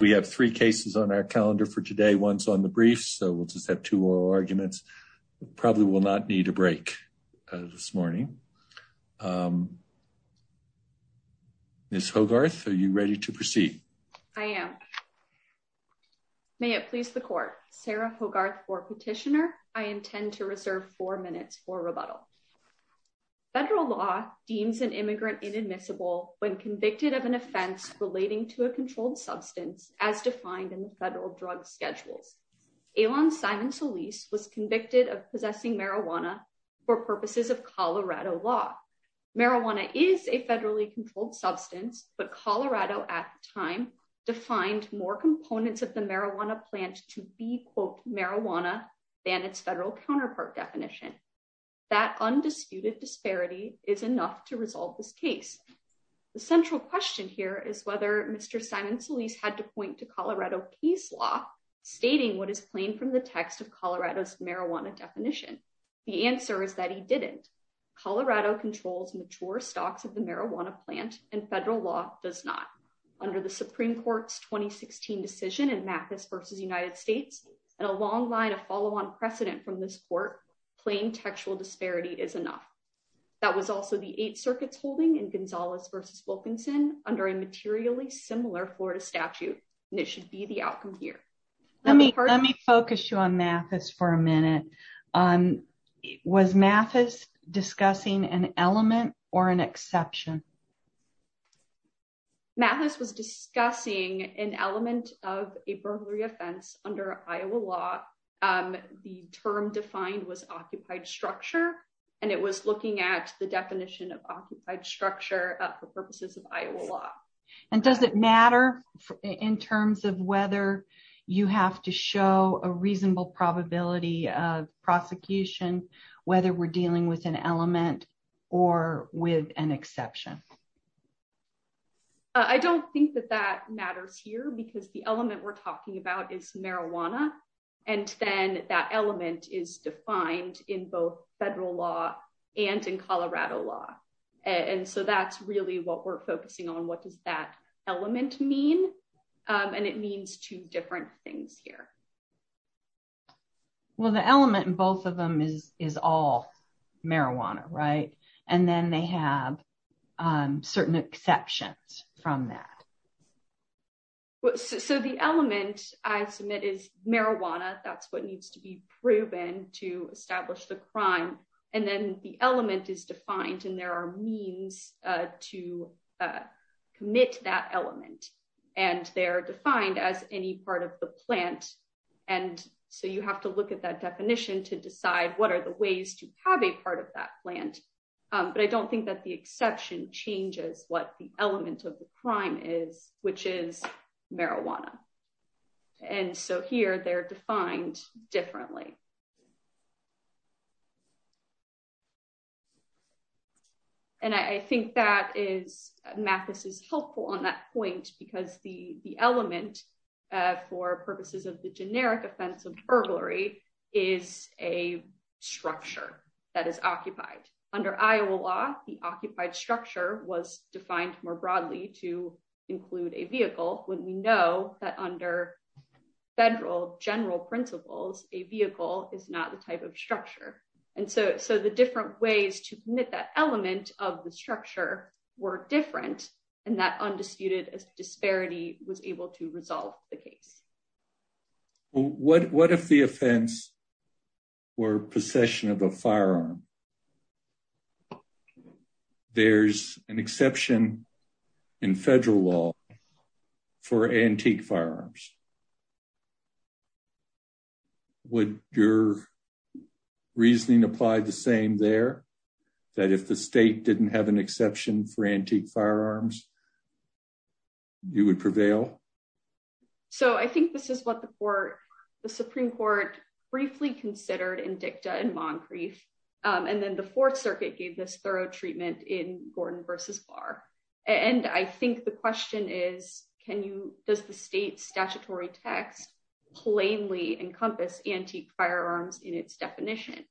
We have three cases on our calendar for today, one's on the briefs, so we'll just have two oral arguments. We probably will not need a break this morning. Ms. Hogarth, are you ready to proceed? I am. May it please the Court, Sarah Hogarth for Petitioner. I intend to reserve four minutes for rebuttal. Federal law deems an immigrant inadmissible when convicted of an offense relating to a substance as defined in the federal drug schedules. Alon Simon-Solis was convicted of possessing marijuana for purposes of Colorado law. Marijuana is a federally controlled substance, but Colorado at the time defined more components of the marijuana plant to be, quote, marijuana than its federal counterpart definition. That undisputed disparity is enough to resolve this case. The central question here is whether Mr. Simon-Solis had to point to Colorado case law stating what is plain from the text of Colorado's marijuana definition. The answer is that he didn't. Colorado controls mature stocks of the marijuana plant, and federal law does not. Under the Supreme Court's 2016 decision in Mathis v. United States and a long line of follow-on precedent from this Court, plain textual disparity is enough. That was also the Eighth Circuit's holding in Gonzales v. Wilkinson under a materially similar Florida statute, and it should be the outcome here. Let me focus you on Mathis for a minute. Was Mathis discussing an element or an exception? Mathis was discussing an element of a burglary offense under Iowa law. The term defined was occupied structure, and it was looking at the definition of occupied structure for purposes of Iowa law. And does it matter in terms of whether you have to show a reasonable probability of prosecution whether we're dealing with an element or with an exception? I don't think that that matters here because the element we're talking about is marijuana, and then that element is defined in both federal law and in Colorado law. So that's really what we're focusing on. What does that element mean? And it means two different things here. Well, the element in both of them is all marijuana, right? And then they have certain exceptions from that. So the element I submit is marijuana. That's what needs to be proven to establish the crime. And then the element is defined, and there are means to commit that element, and they're defined as any part of the plant. And so you have to look at that definition to decide what are the ways to have a part of that plant. But I don't think that the exception changes what the element of the crime is, which is marijuana. And so here they're defined differently. And I think that is, Mathis is helpful on that point because the element for purposes of the generic offense of burglary is a structure that is occupied. Under Iowa law, the occupied structure was defined more broadly to include a vehicle when we know that under federal general principles, a vehicle is not the type of structure. And so the different ways to commit that element of the structure were different, and that undisputed disparity was able to resolve the case. What if the offense were possession of a firearm? If there's an exception in federal law for antique firearms, would your reasoning apply the same there? That if the state didn't have an exception for antique firearms, you would prevail? So I think this is what the Supreme Court briefly considered in dicta in Moncrief. And then the Fourth Circuit gave this thorough treatment in Gordon versus Barr. And I think the question is, can you, does the state's statutory text plainly encompass antique firearms in its definition?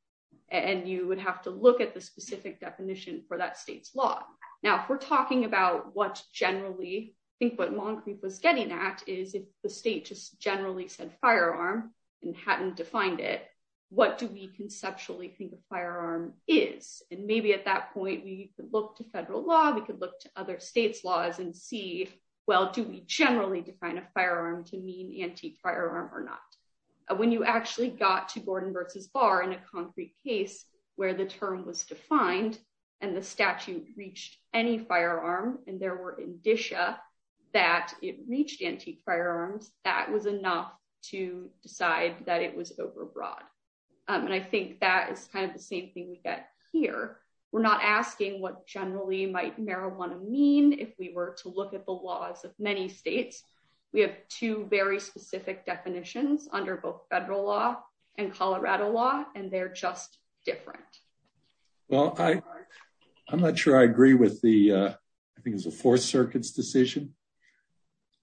And you would have to look at the specific definition for that state's law. Now, if we're talking about what generally, I think what Moncrief was getting at is if the state just generally said firearm and hadn't defined it, what do we conceptually think a firearm is? And maybe at that point, we could look to federal law, we could look to other states laws and see, well, do we generally define a firearm to mean antique firearm or not? When you actually got to Gordon versus Barr in a concrete case where the term was defined and the statute reached any firearm and there were indicia that it reached antique firearms, that was enough to decide that it was overbroad. And I think that is kind of the same thing we get here. We're not asking what generally might marijuana mean if we were to look at the laws of many states. We have two very specific definitions under both federal law and Colorado law, and they're just different. Well, I'm not sure I agree with the, I think it was the Fourth Circuit's decision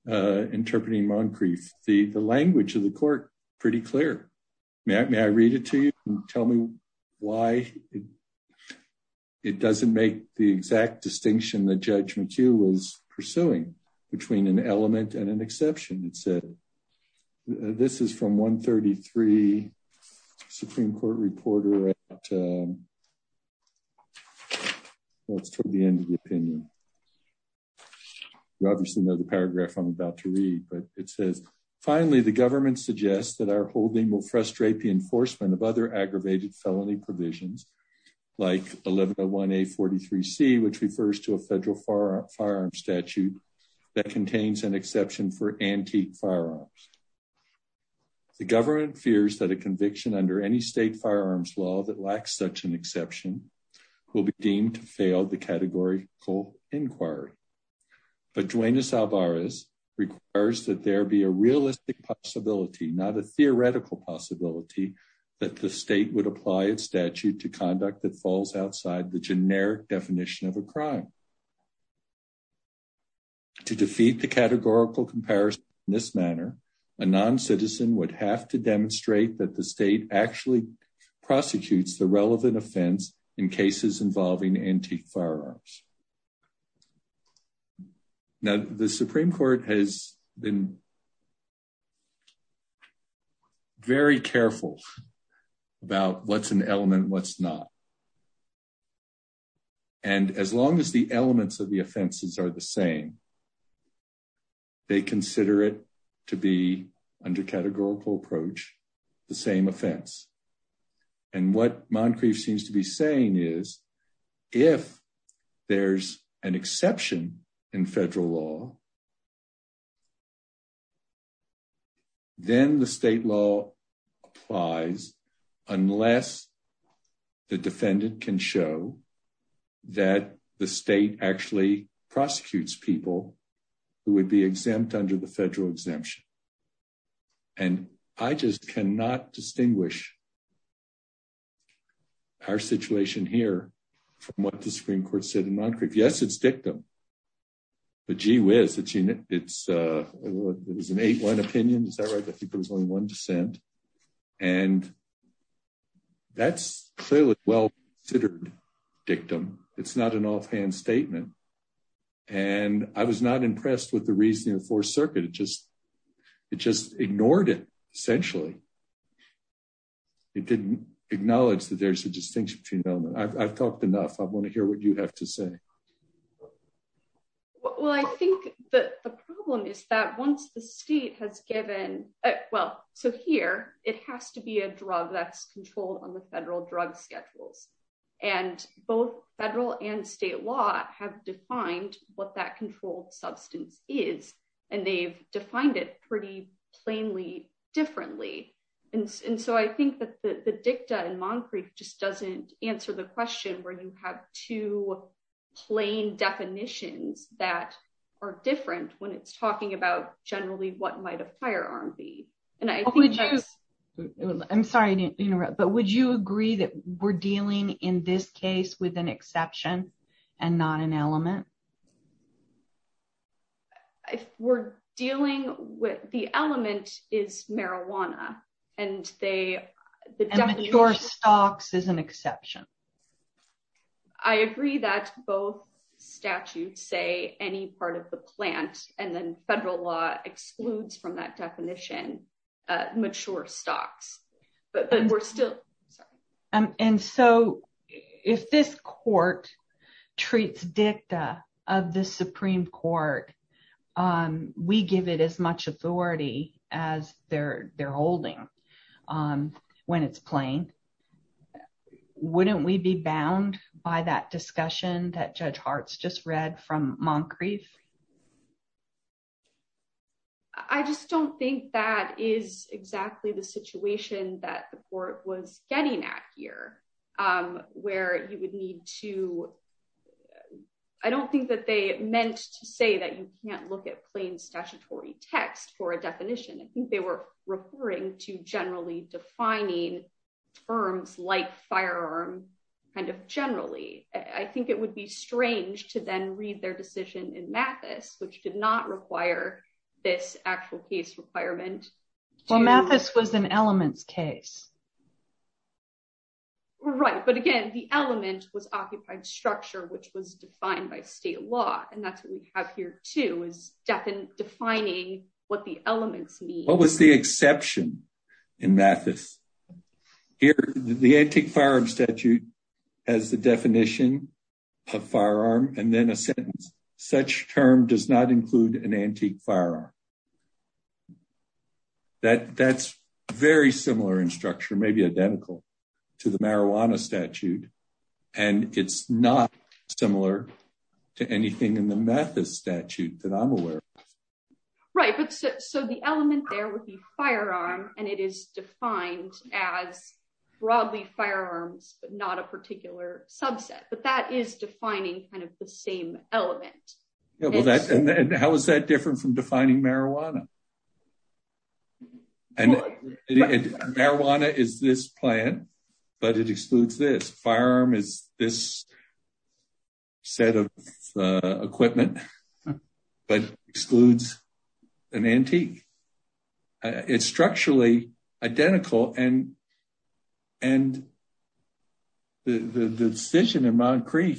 interpreting Moncrief. The language of the court, pretty clear. May I read it to you and tell me why it doesn't make the exact distinction that Judge McHugh was pursuing between an element and an exception. It said, this is from 133 Supreme Court reporter at the end of the opinion. You obviously know the paragraph I'm about to read, but it says, finally, the government suggests that our holding will frustrate the enforcement of other aggravated felony provisions, like 1101A43C, which refers to a federal firearm statute that contains an exception for antique firearms. The government fears that a conviction under any state firearms law that lacks such an exception will be deemed to fail the categorical inquiry. But Duenas-Alvarez requires that there be a realistic possibility, not a theoretical possibility, that the state would apply its statute to conduct that falls outside the generic definition of a crime. To defeat the categorical comparison in this manner, a non-citizen would have to demonstrate that the state actually prosecutes the relevant offense in cases involving antique firearms. Now, the Supreme Court has been very careful about what's an element, what's not. And as long as the elements of the offenses are the same, they consider it to be, under categorical approach, the same offense. And what Moncrief seems to be saying is, if there's an exception in federal law, then the state law applies unless the defendant can show that the state actually prosecutes people who would be exempt under the federal exemption. And I just cannot distinguish our situation here from what the Supreme Court said in Moncrief. Yes, it's dictum. But gee whiz, it's an 8-1 opinion. Is that right? I think there was only one dissent. And that's clearly well-considered dictum. It's not an offhand statement. And I was not impressed with the reasoning of the Fourth Circuit. It just ignored it, essentially. It didn't acknowledge that there's a distinction between elements. I've talked enough. I want to hear what you have to say. Well, I think that the problem is that once the state has given, well, so here, it has to be a drug that's controlled on the federal drug schedules. And both federal and state law have defined what that controlled substance is. And they've defined it pretty plainly differently. And so I think that the dictum in Moncrief just doesn't answer the question where you have two plain definitions that are different when it's talking about generally what might a firearm be. And I think that's— I'm sorry to interrupt. But would you agree that we're dealing in this case with an exception and not an element? If we're dealing with—the element is marijuana, and they— And mature stocks is an exception. I agree that both statutes say any part of the plant, and then federal law excludes from that definition, mature stocks. But we're still— And so, if this court treats dicta of the Supreme Court, we give it as much authority as they're holding when it's plain, wouldn't we be bound by that discussion that Judge Hart's just read from Moncrief? I just don't think that is exactly the situation that the court was getting at here, where you would need to—I don't think that they meant to say that you can't look at plain statutory text for a definition. I think they were referring to generally defining terms like firearm kind of generally. I think it would be strange to then read their decision in Mathis, which did not require this actual case requirement. Well, Mathis was an elements case. Right. But again, the element was occupied structure, which was defined by state law. And that's what we have here, too, is defining what the elements mean. What was the exception in Mathis? Here, the antique firearm statute has the definition of firearm and then a sentence, such term does not include an antique firearm. That's very similar in structure, maybe identical to the marijuana statute. And it's not similar to anything in the Mathis statute that I'm aware of. Right. So the element there would be firearm, and it is defined as broadly firearms, but not a particular subset. But that is defining kind of the same element. How is that different from defining marijuana? Marijuana is this plant, but it excludes this. Firearm is this set of equipment, but excludes an antique. It's structurally identical. And the decision in Mount Creek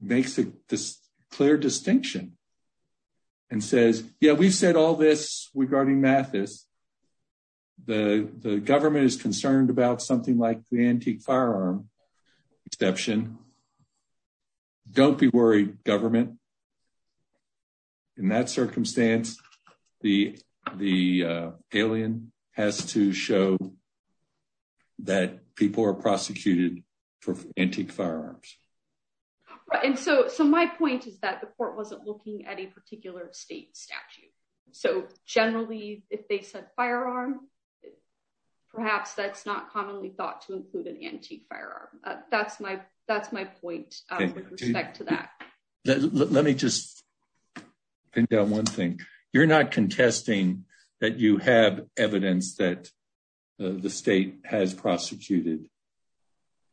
makes a clear distinction and says, yeah, we've said all this regarding Mathis. The government is concerned about something like the antique firearm exception. Don't be worried, government. In that circumstance, the alien has to show that people are prosecuted for antique firearms. And so my point is that the court wasn't looking at a particular state statute. So generally, if they said firearm, perhaps that's not commonly thought to include an antique firearm. That's my point with respect to that. Let me just pin down one thing. You're not contesting that you have evidence that the state has prosecuted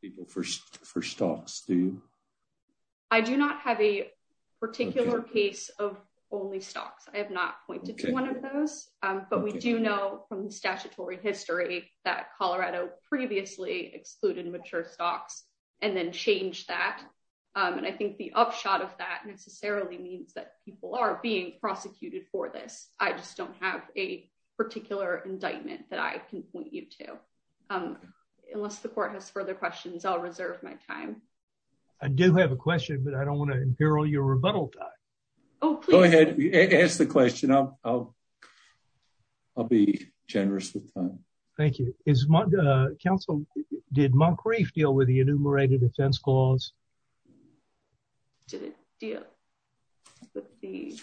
people for stocks, do you? I do not have a particular case of only stocks. I have not pointed to one of those. But we do know from the statutory history that Colorado previously excluded mature stocks and then changed that. And I think the upshot of that necessarily means that people are being prosecuted for this. I just don't have a particular indictment that I can point you to. Unless the court has further questions, I'll reserve my time. I do have a question, but I don't want to imperil your rebuttal time. Go ahead. Ask the question. I'll be generous with time. Thank you. Counsel, did Moncrief deal with the enumerated offense clause? The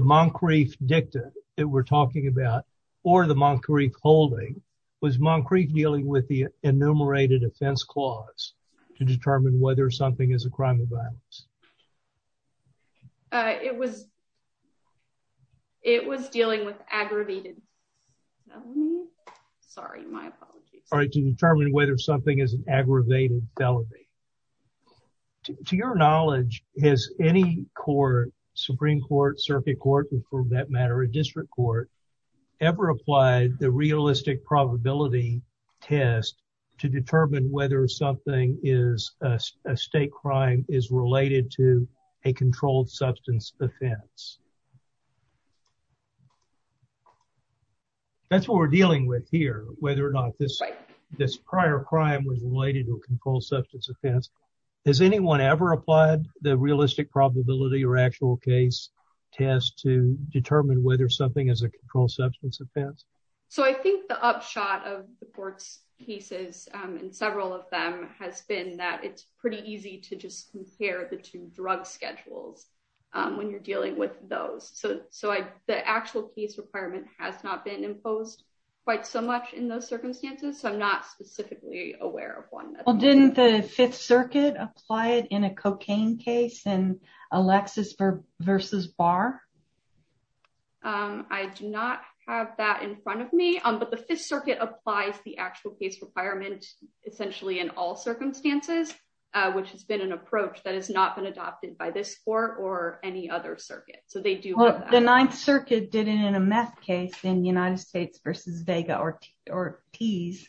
Moncrief dicta that we're talking about, or the Moncrief holding, was Moncrief dealing with the enumerated offense clause to determine whether something is a crime of violence? It was dealing with aggravated felony. Sorry, my apologies. All right, to determine whether something is an aggravated felony. To your knowledge, has any court, Supreme Court, circuit court, and for that matter, a district court, ever applied the realistic probability test to determine whether something is a state crime is related to a controlled substance offense? That's what we're dealing with here, whether or not this prior crime was related to a controlled substance offense. Has anyone ever applied the realistic probability or actual case test to determine whether something is a controlled substance offense? I think the upshot of the court's cases, and several of them, has been that it's pretty easy to just compare the two drug schedules when you're dealing with those. The actual case requirement has not been imposed quite so much in those circumstances, so I'm not specifically aware of one. Didn't the Fifth Circuit apply it in a cocaine case in Alexis versus Barr? I do not have that in front of me, but the Fifth Circuit applies the actual case requirement essentially in all circumstances, which has been an approach that has not been adopted by this court or any other circuit, so they do. The Ninth Circuit did it in a meth case in United States versus Vega or Tees.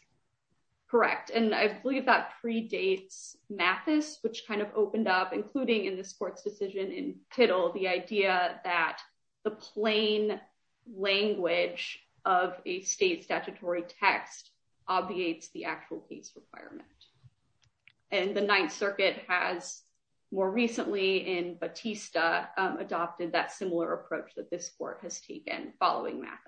Correct, and I believe that predates Mathis, which kind of opened up, including in this court's decision in Tittle, the idea that the plain language of a state statutory text obviates the actual case requirement. And the Ninth Circuit has, more recently in Batista, adopted that similar approach that this court has taken following Mathis.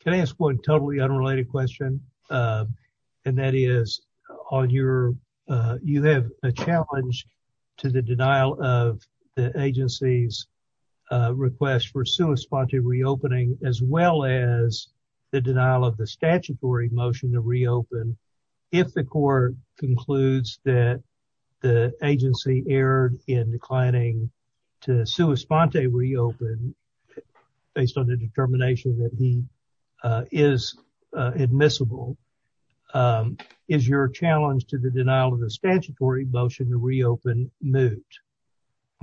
Can I ask one totally unrelated question? And that is, you have a challenge to the denial of the agency's request for sua sponte reopening as well as the denial of the statutory motion to reopen if the court concludes that the agency erred in declining to sua sponte reopen based on the determination that he is admissible um, is your challenge to the denial of the statutory motion to reopen moot?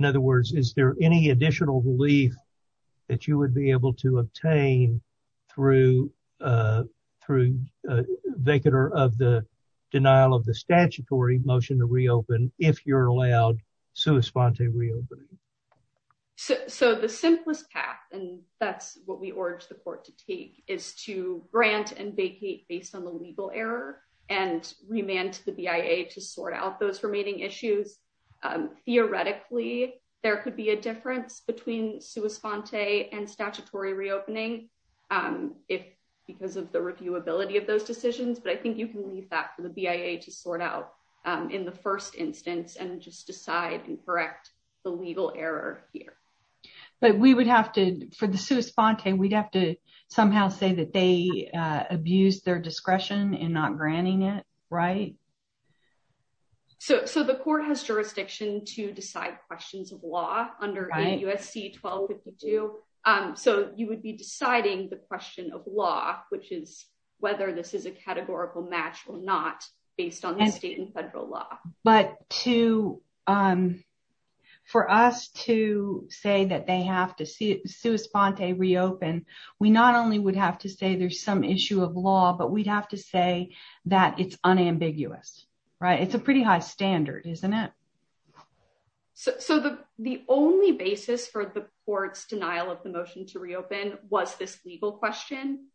In other words, is there any additional relief that you would be able to obtain through uh, through a vecator of the denial of the statutory motion to reopen if you're allowed sua sponte reopening? So the simplest path, and that's what we urge the court to take, is to grant and vacate based on the legal error and remand to the BIA to sort out those remaining issues. Theoretically, there could be a difference between sua sponte and statutory reopening if, because of the reviewability of those decisions, but I think you can leave that for the BIA to sort out in the first instance and just decide and correct the legal error here. But we would have to, for the sua sponte, we'd have to somehow say that they abused their discretion in not granting it, right? So, so the court has jurisdiction to decide questions of law under USC 1252, so you would be deciding the question of law, which is whether this is a categorical match or not based on the state and federal law. But to, um, for us to say that they have to sua sponte reopen, we not only would have to say there's some issue of law, but we'd have to say that it's unambiguous, right? It's a pretty high standard, isn't it? So the, the only basis for the court's denial of the motion to reopen was this legal question.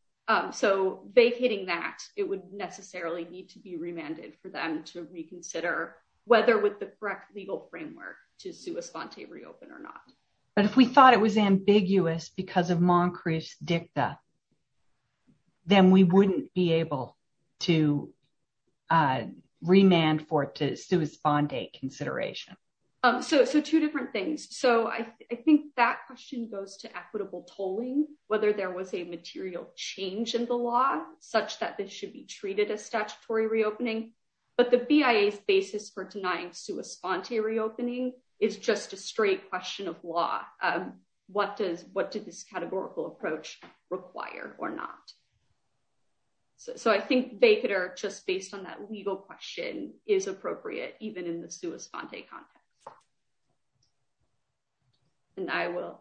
So vacating that, it would necessarily need to be remanded for them to reconsider whether with the correct legal framework to sua sponte reopen or not. But if we thought it was ambiguous because of Moncrieff's dicta, then we wouldn't be able to remand for it to sua sponte consideration. So, so two different things. So I think that question goes to equitable tolling, whether there was a material change in the law such that this should be treated as statutory reopening, but the BIA's basis for denying sua sponte reopening is just a straight question of law. What does, what did this categorical approach require or not? So I think they could, or just based on that legal question is appropriate, even in the sua sponte context. And I will.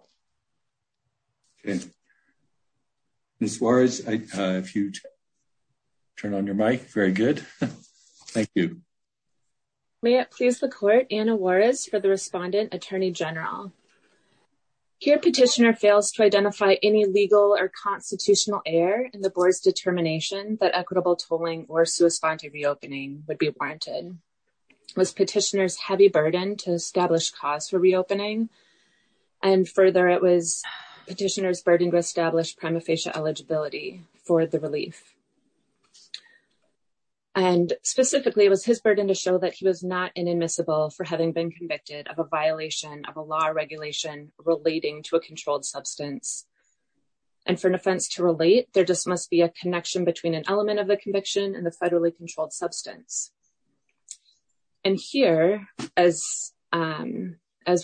Okay, Ms. Suarez, if you turn on your mic. Very good. Thank you. May it please the court, Anna Juarez for the respondent, Attorney General. Here, petitioner fails to identify any legal or constitutional error in the board's determination that equitable tolling or sua sponte reopening would be warranted. Was petitioner's heavy burden to establish cause for reopening? And further, it was petitioner's burden to establish prima facie eligibility for the relief. And specifically, it was his burden to show that he was not inadmissible for having been convicted of a violation of a law or regulation relating to a controlled substance. And for an offense to relate, there just must be a connection between an element of the conviction and the federally controlled substance. And here, as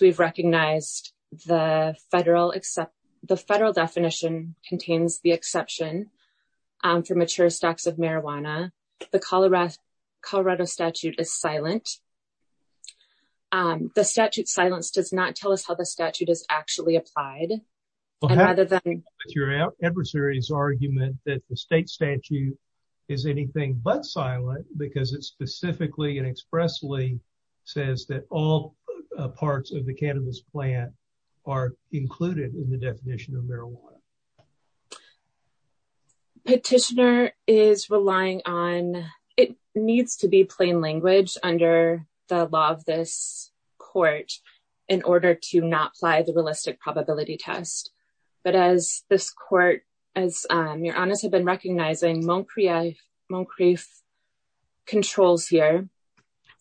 we've recognized, the federal definition contains the exception for stocks of marijuana. The Colorado statute is silent. The statute's silence does not tell us how the statute is actually applied. Your adversary's argument that the state statute is anything but silent because it specifically and expressly says that all parts of the cannabis plant are included in the definition of marijuana. Petitioner is relying on it needs to be plain language under the law of this court in order to not apply the realistic probability test. But as this court, as your honors have been recognizing, Moncrief controls here.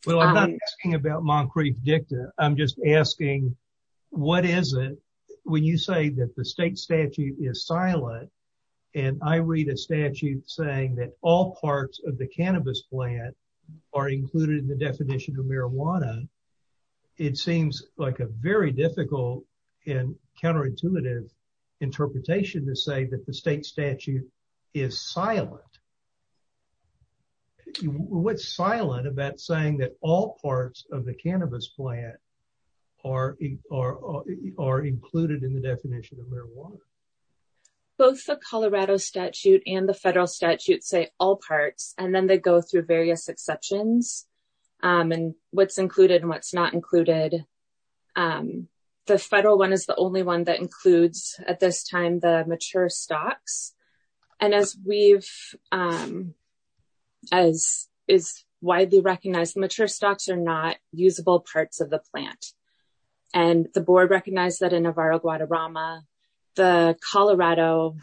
Well, I'm not asking about Moncrief dicta. I'm just asking, what is it? When you say that the state statute is silent and I read a statute saying that all parts of the cannabis plant are included in the definition of marijuana, it seems like a very difficult and counterintuitive interpretation to say that the state statute is silent. What's silent about saying that all parts of the cannabis plant are included in the definition of marijuana? Both the Colorado statute and the federal statute say all parts, and then they go through various exceptions and what's included and what's not included. The federal one is the only one that includes, at this time, the mature stocks. And as is widely recognized, mature stocks are not usable parts of the plant. And the board recognized that in Navarro-Guadarrama, the Colorado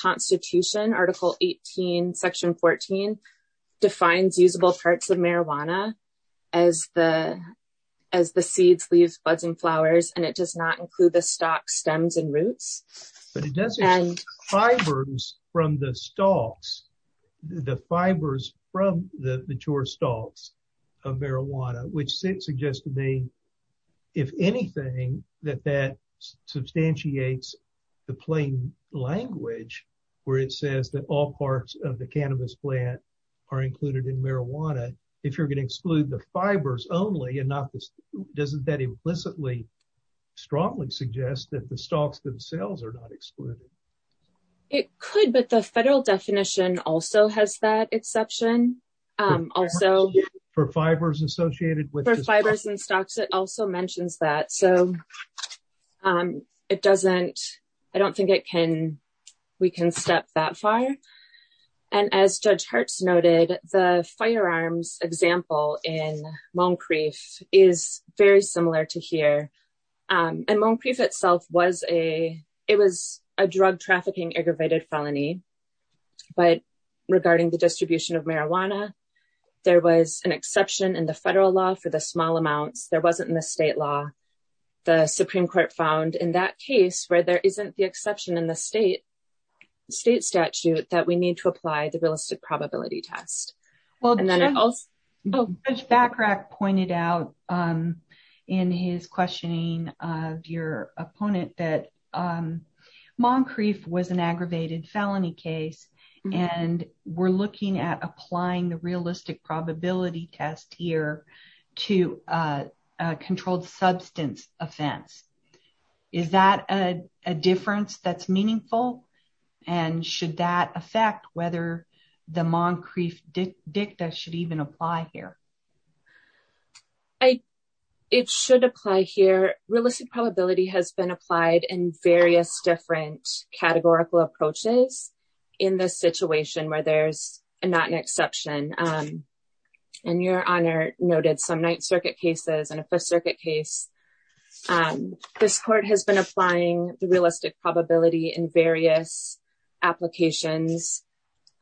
Constitution, Article 18, Section 14, defines usable parts of marijuana as the seeds, leaves, buds, and flowers. And it does not include the stock stems and roots. But it does include fibers from the stocks, the fibers from the mature stocks of marijuana, which suggests to me, if anything, that that substantiates the plain language where it says that all parts of the cannabis plant are included in marijuana, if you're going to exclude the fibers only, doesn't that implicitly strongly suggest that the stocks themselves are not excluded? It could, but the federal definition also has that exception. For fibers associated with the stocks? For fibers and stocks, it also mentions that. So I don't think we can step that far. And as Judge Hertz noted, the firearms example in Moncrief is very similar to here. And Moncrief itself was a drug trafficking aggravated felony. But regarding the distribution of marijuana, there was an exception in the federal law for the small amounts. There wasn't in the state law. The Supreme Court found in that case, where there isn't the exception in the state statute, that we need to apply the realistic probability test. Well, Judge Bachrach pointed out in his questioning of your opponent that Moncrief was an aggravated felony case, and we're looking at applying the realistic probability test here to a controlled substance offense. Is that a difference that's meaningful? And should that affect whether the Moncrief dicta should even apply here? It should apply here. Realistic probability has been applied in various different categorical approaches in this situation where there's not an exception. And Your Honor noted some Ninth Circuit cases and a Fifth Circuit case. And this court has been applying the realistic probability in various applications.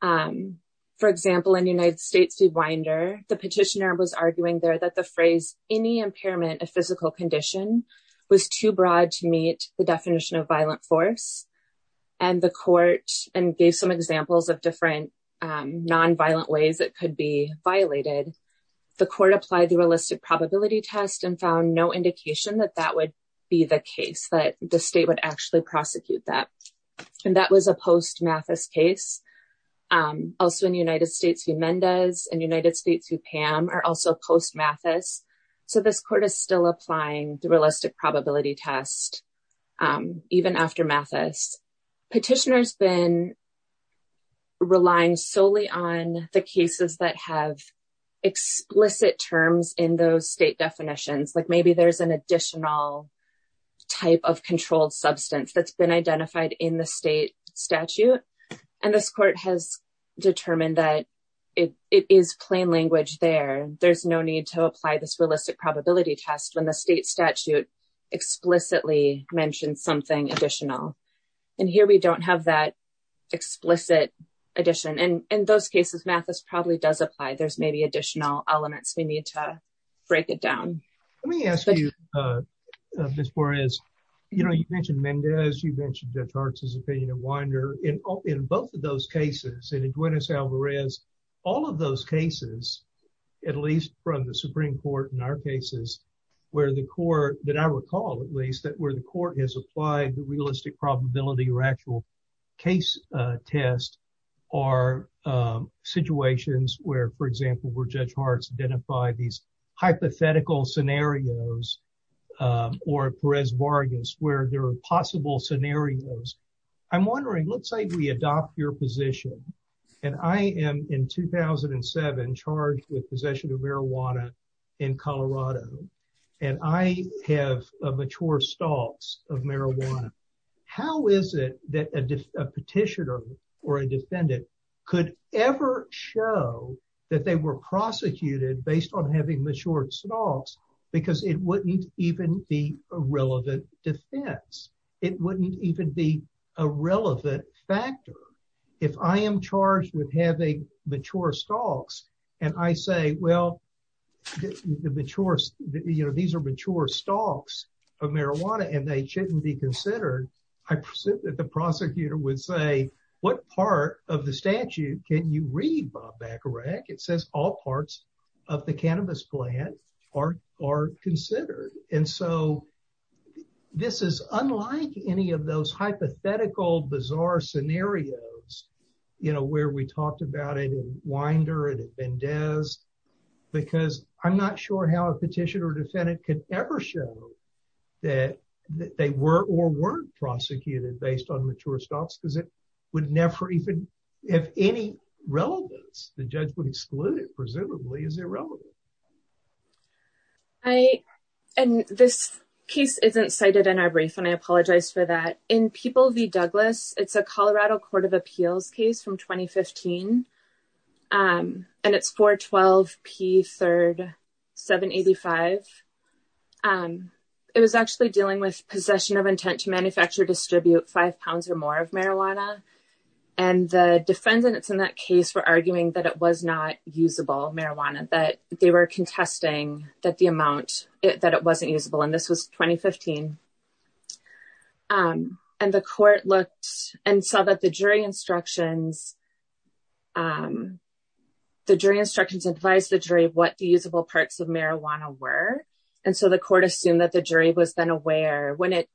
For example, in United States v. Winder, the petitioner was arguing there that the phrase any impairment of physical condition was too broad to meet the definition of violent force. And the court gave some examples of different nonviolent ways it could be violated. The court applied the realistic probability test and found no indication that that would be the case, that the state would actually prosecute that. And that was a post-Mathis case. Also in United States v. Mendez and United States v. Pam are also post-Mathis. So this court is still applying the realistic probability test even after Mathis. Petitioner's been relying solely on the cases that have explicit terms in those state definitions. Like maybe there's an additional type of controlled substance that's been identified in the state statute. And this court has determined that it is plain language there. There's no need to apply this realistic probability test when the state statute explicitly mentioned something additional. And here we don't have that explicit addition. And in those cases, Mathis probably does apply. There's maybe additional elements we need to break it down. Let me ask you, Ms. Juarez, you know, you mentioned Mendez, you mentioned Judge Hartz's opinion of Winder. In both of those cases, and in Juarez v. Alvarez, all of those cases, at least from the Supreme Court in our cases, where the court, that I recall at least, that where the court has applied the realistic probability or actual case test are situations where, for example, where Judge Hartz identified these hypothetical scenarios, or Perez-Vargas, where there are possible scenarios. I'm wondering, let's say we adopt your position. And I am in 2007 charged with possession of marijuana in Colorado. And I have mature stalks of marijuana. How is it that a petitioner or a defendant could ever show that they were prosecuted based on having mature stalks? Because it wouldn't even be a relevant defense. It wouldn't even be a relevant factor. If I am charged with having mature stalks, and I say, well, the mature, you know, these are mature stalks of marijuana, and they shouldn't be considered, I presume that the prosecutor would say, what part of the statute can you read, Bob Bacharach? It says all parts of the cannabis plant are considered. And so this is unlike any of those hypothetical, bizarre scenarios, you know, where we talked about it in Winder and at Bendez, because I'm not sure how a petitioner or defendant could ever show that they were or weren't prosecuted based on mature stalks, because it would never even have any relevance. The judge would exclude it, presumably, as irrelevant. I, and this case isn't cited in our brief, and I apologize for that. In People v. Douglas, it's a Colorado Court of Appeals case from 2015, and it's 412P3,785. It was actually dealing with possession of intent to manufacture, distribute five pounds or more of marijuana, and the defendants in that case were arguing that it was not usable marijuana, that they were contesting that the amount, that it wasn't usable, and this was 2015. And the court looked and saw that the jury instructions, the jury instructions advised the jury what the usable parts of marijuana were, and so the court assumed that the jury was then aware when it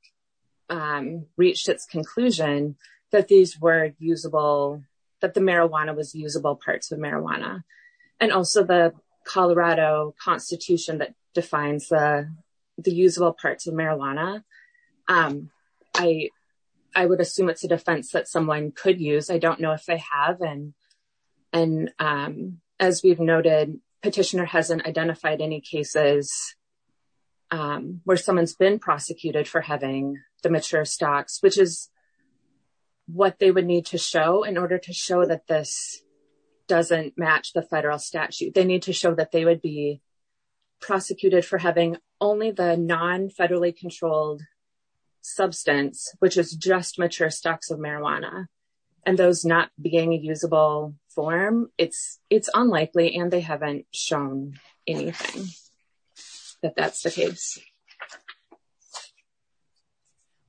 reached its conclusion that these were usable, that the marijuana was usable parts of marijuana, and also the Colorado Constitution that defines the usable parts of marijuana. I would assume it's a defense that someone could use. I don't know if they have, and as we've noted, petitioner hasn't identified any cases where someone's been prosecuted for having the mature stalks, which is what they would need to show in order to show that this doesn't match the federal statute. They need to show that they would be prosecuted for having only the non-federally controlled substance, which is just mature stalks of marijuana, and those not being a usable form, it's unlikely, and they haven't shown anything that that's the case.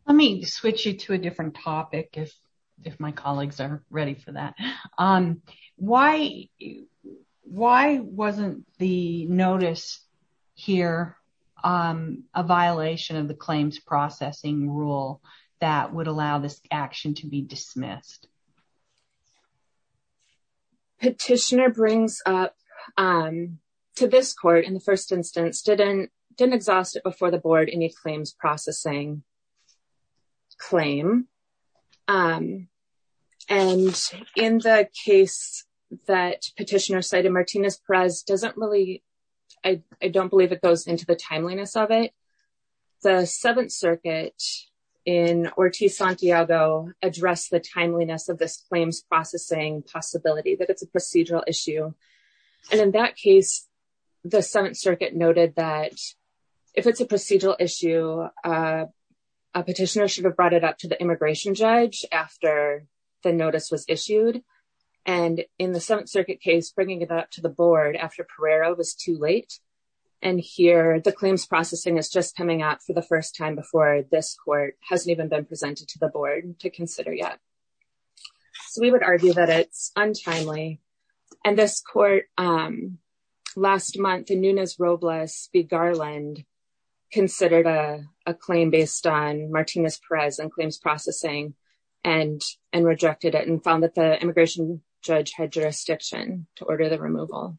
Let me switch you to a different topic if my colleagues are ready for that. Why wasn't the notice here a violation of the claims processing rule that would allow this action to be dismissed? Petitioner brings up, to this court, in the first instance, didn't exhaust it before the board any claims processing claim, and in the case that petitioner cited, Martinez-Perez doesn't really, I don't believe it goes into the timeliness of it, the Seventh Circuit in Ortiz-Santiago addressed the timeliness of this claims processing possibility, that it's a procedural issue, and in that case, the Seventh Circuit noted that if it's a procedural issue, a petitioner should have brought it up to the immigration judge after the notice was issued, and in the Seventh Circuit case, bringing it up to the board after Pereira was too late, and here, the claims processing is just coming up for the court, hasn't even been presented to the board to consider yet, so we would argue that it's untimely, and this court, last month, in Nunez-Robles v. Garland, considered a claim based on Martinez-Perez and claims processing, and rejected it, and found that the immigration judge had jurisdiction to order the removal.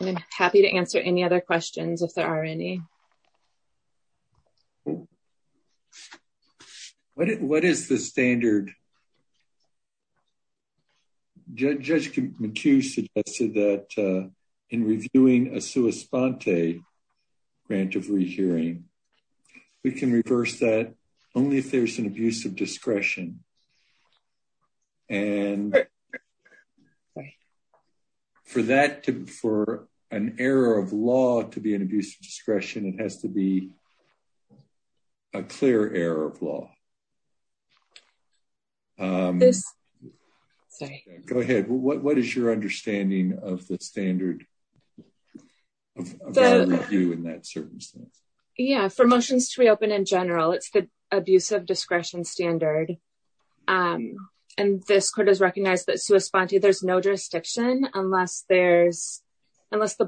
I'm happy to answer any other questions, if there are any. What is the standard? Judge McHugh suggested that in reviewing a sua sponte grant of rehearing, we can reverse that only if there's an abuse of discretion. And for that, for an error of law to be an abuse of discretion, it has to be a clear error of law. Go ahead. What is your understanding of the standard of our review in that circumstance? Yeah, for motions to reopen in general, it's the abuse of discretion standard, and this court has recognized that sua sponte, there's no jurisdiction unless the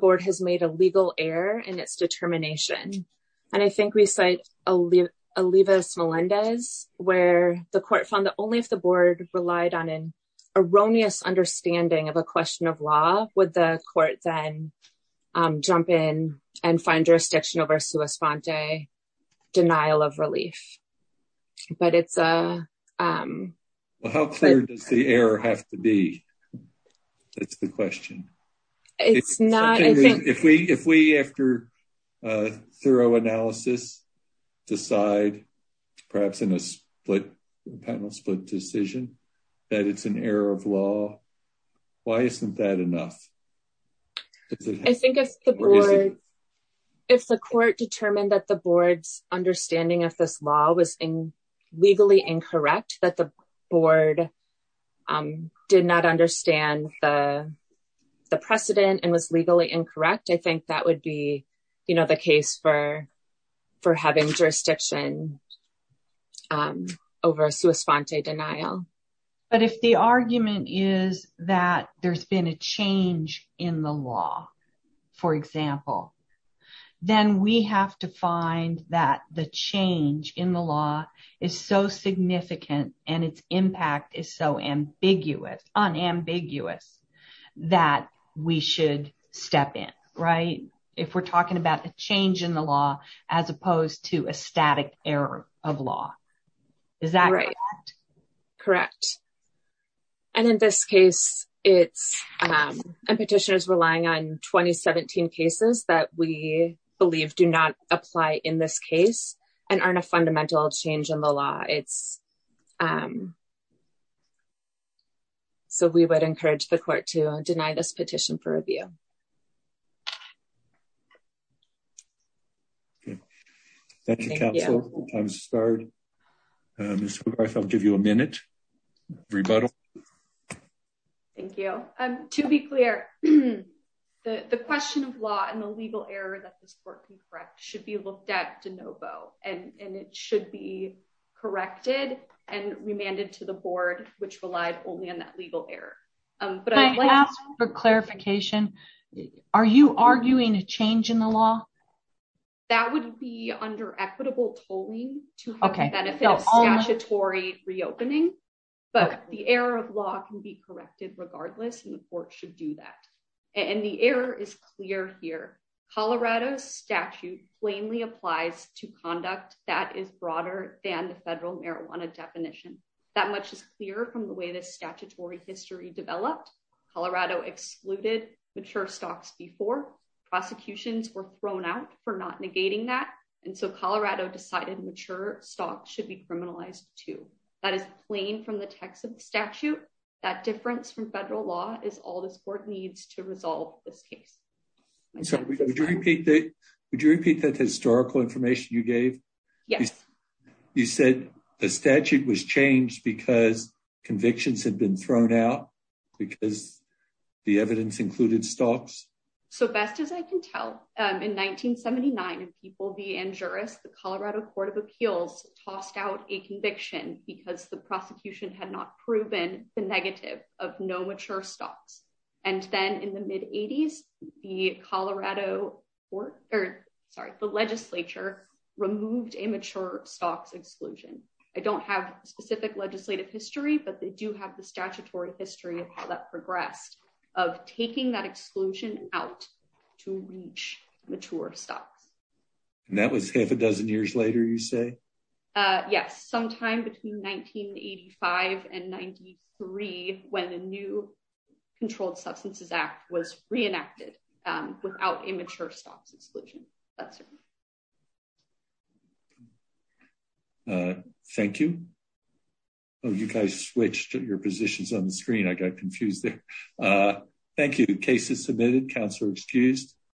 board has made a legal error in its determination, and I think we cite Olivas-Melendez, where the court found that only if the board relied on an erroneous understanding of a question of law, would the court then jump in and find jurisdiction over sua sponte denial of relief. But it's a... Well, how clear does the error have to be? That's the question. It's not... If we, after a thorough analysis, decide, perhaps in a split panel split decision, that it's an error of law, why isn't that enough? I think if the board, if the court determined that the board's understanding of this law was legally incorrect, that the board did not understand the precedent and was legally incorrect, I think that would be the case for having jurisdiction over sua sponte denial. But if the argument is that there's been a change in the law, for example, then we have to find that the change in the law is so significant and its impact is so unambiguous that we should step in, right? If we're talking about a change in the law as opposed to a static error of law, is that correct? Correct. And in this case, it's... And petitioners relying on 2017 cases that we believe do not apply in this case and aren't a fundamental change in the law. It's... So we would encourage the court to deny this petition for review. Okay. Thank you, counsel. I'll give you a minute. Rebuttal. Thank you. To be clear, the question of law and the legal error that this court can correct should be looked at de novo, and it should be corrected and remanded to the board, which relied only on that legal error. But I'd like to... Can I ask for clarification? Are you arguing a change in the law? That would be under equitable tolling to have the benefit of statutory reopening, but the error of law can be corrected regardless, and the court should do that. And the error is clear here. Colorado statute plainly applies to conduct that is broader than federal marijuana definition. That much is clear from the way the statutory history developed. Colorado excluded mature stocks before. Prosecutions were thrown out for not negating that, and so Colorado decided mature stocks should be criminalized too. That is plain from the text of the statute. That difference from federal law is all this court needs to resolve this case. I'm sorry, would you repeat that historical information you gave? Yes. You said the statute was changed because convictions had been thrown out because the evidence included stocks? So best as I can tell, in 1979, if people be injurious, the Colorado Court of Appeals tossed out a conviction because the prosecution had not proven the negative of no mature stocks. And then in the mid-80s, the legislature removed a mature stocks exclusion. I don't have specific legislative history, but they do have the statutory history of how that progressed of taking that exclusion out to reach mature stocks. And that was half a dozen years you say? Yes, sometime between 1985 and 93, when the new Controlled Substances Act was reenacted without a mature stocks exclusion. That's it. Thank you. Oh, you guys switched your positions on the screen. I got confused there. Thank you. Case is submitted. Counselor excused.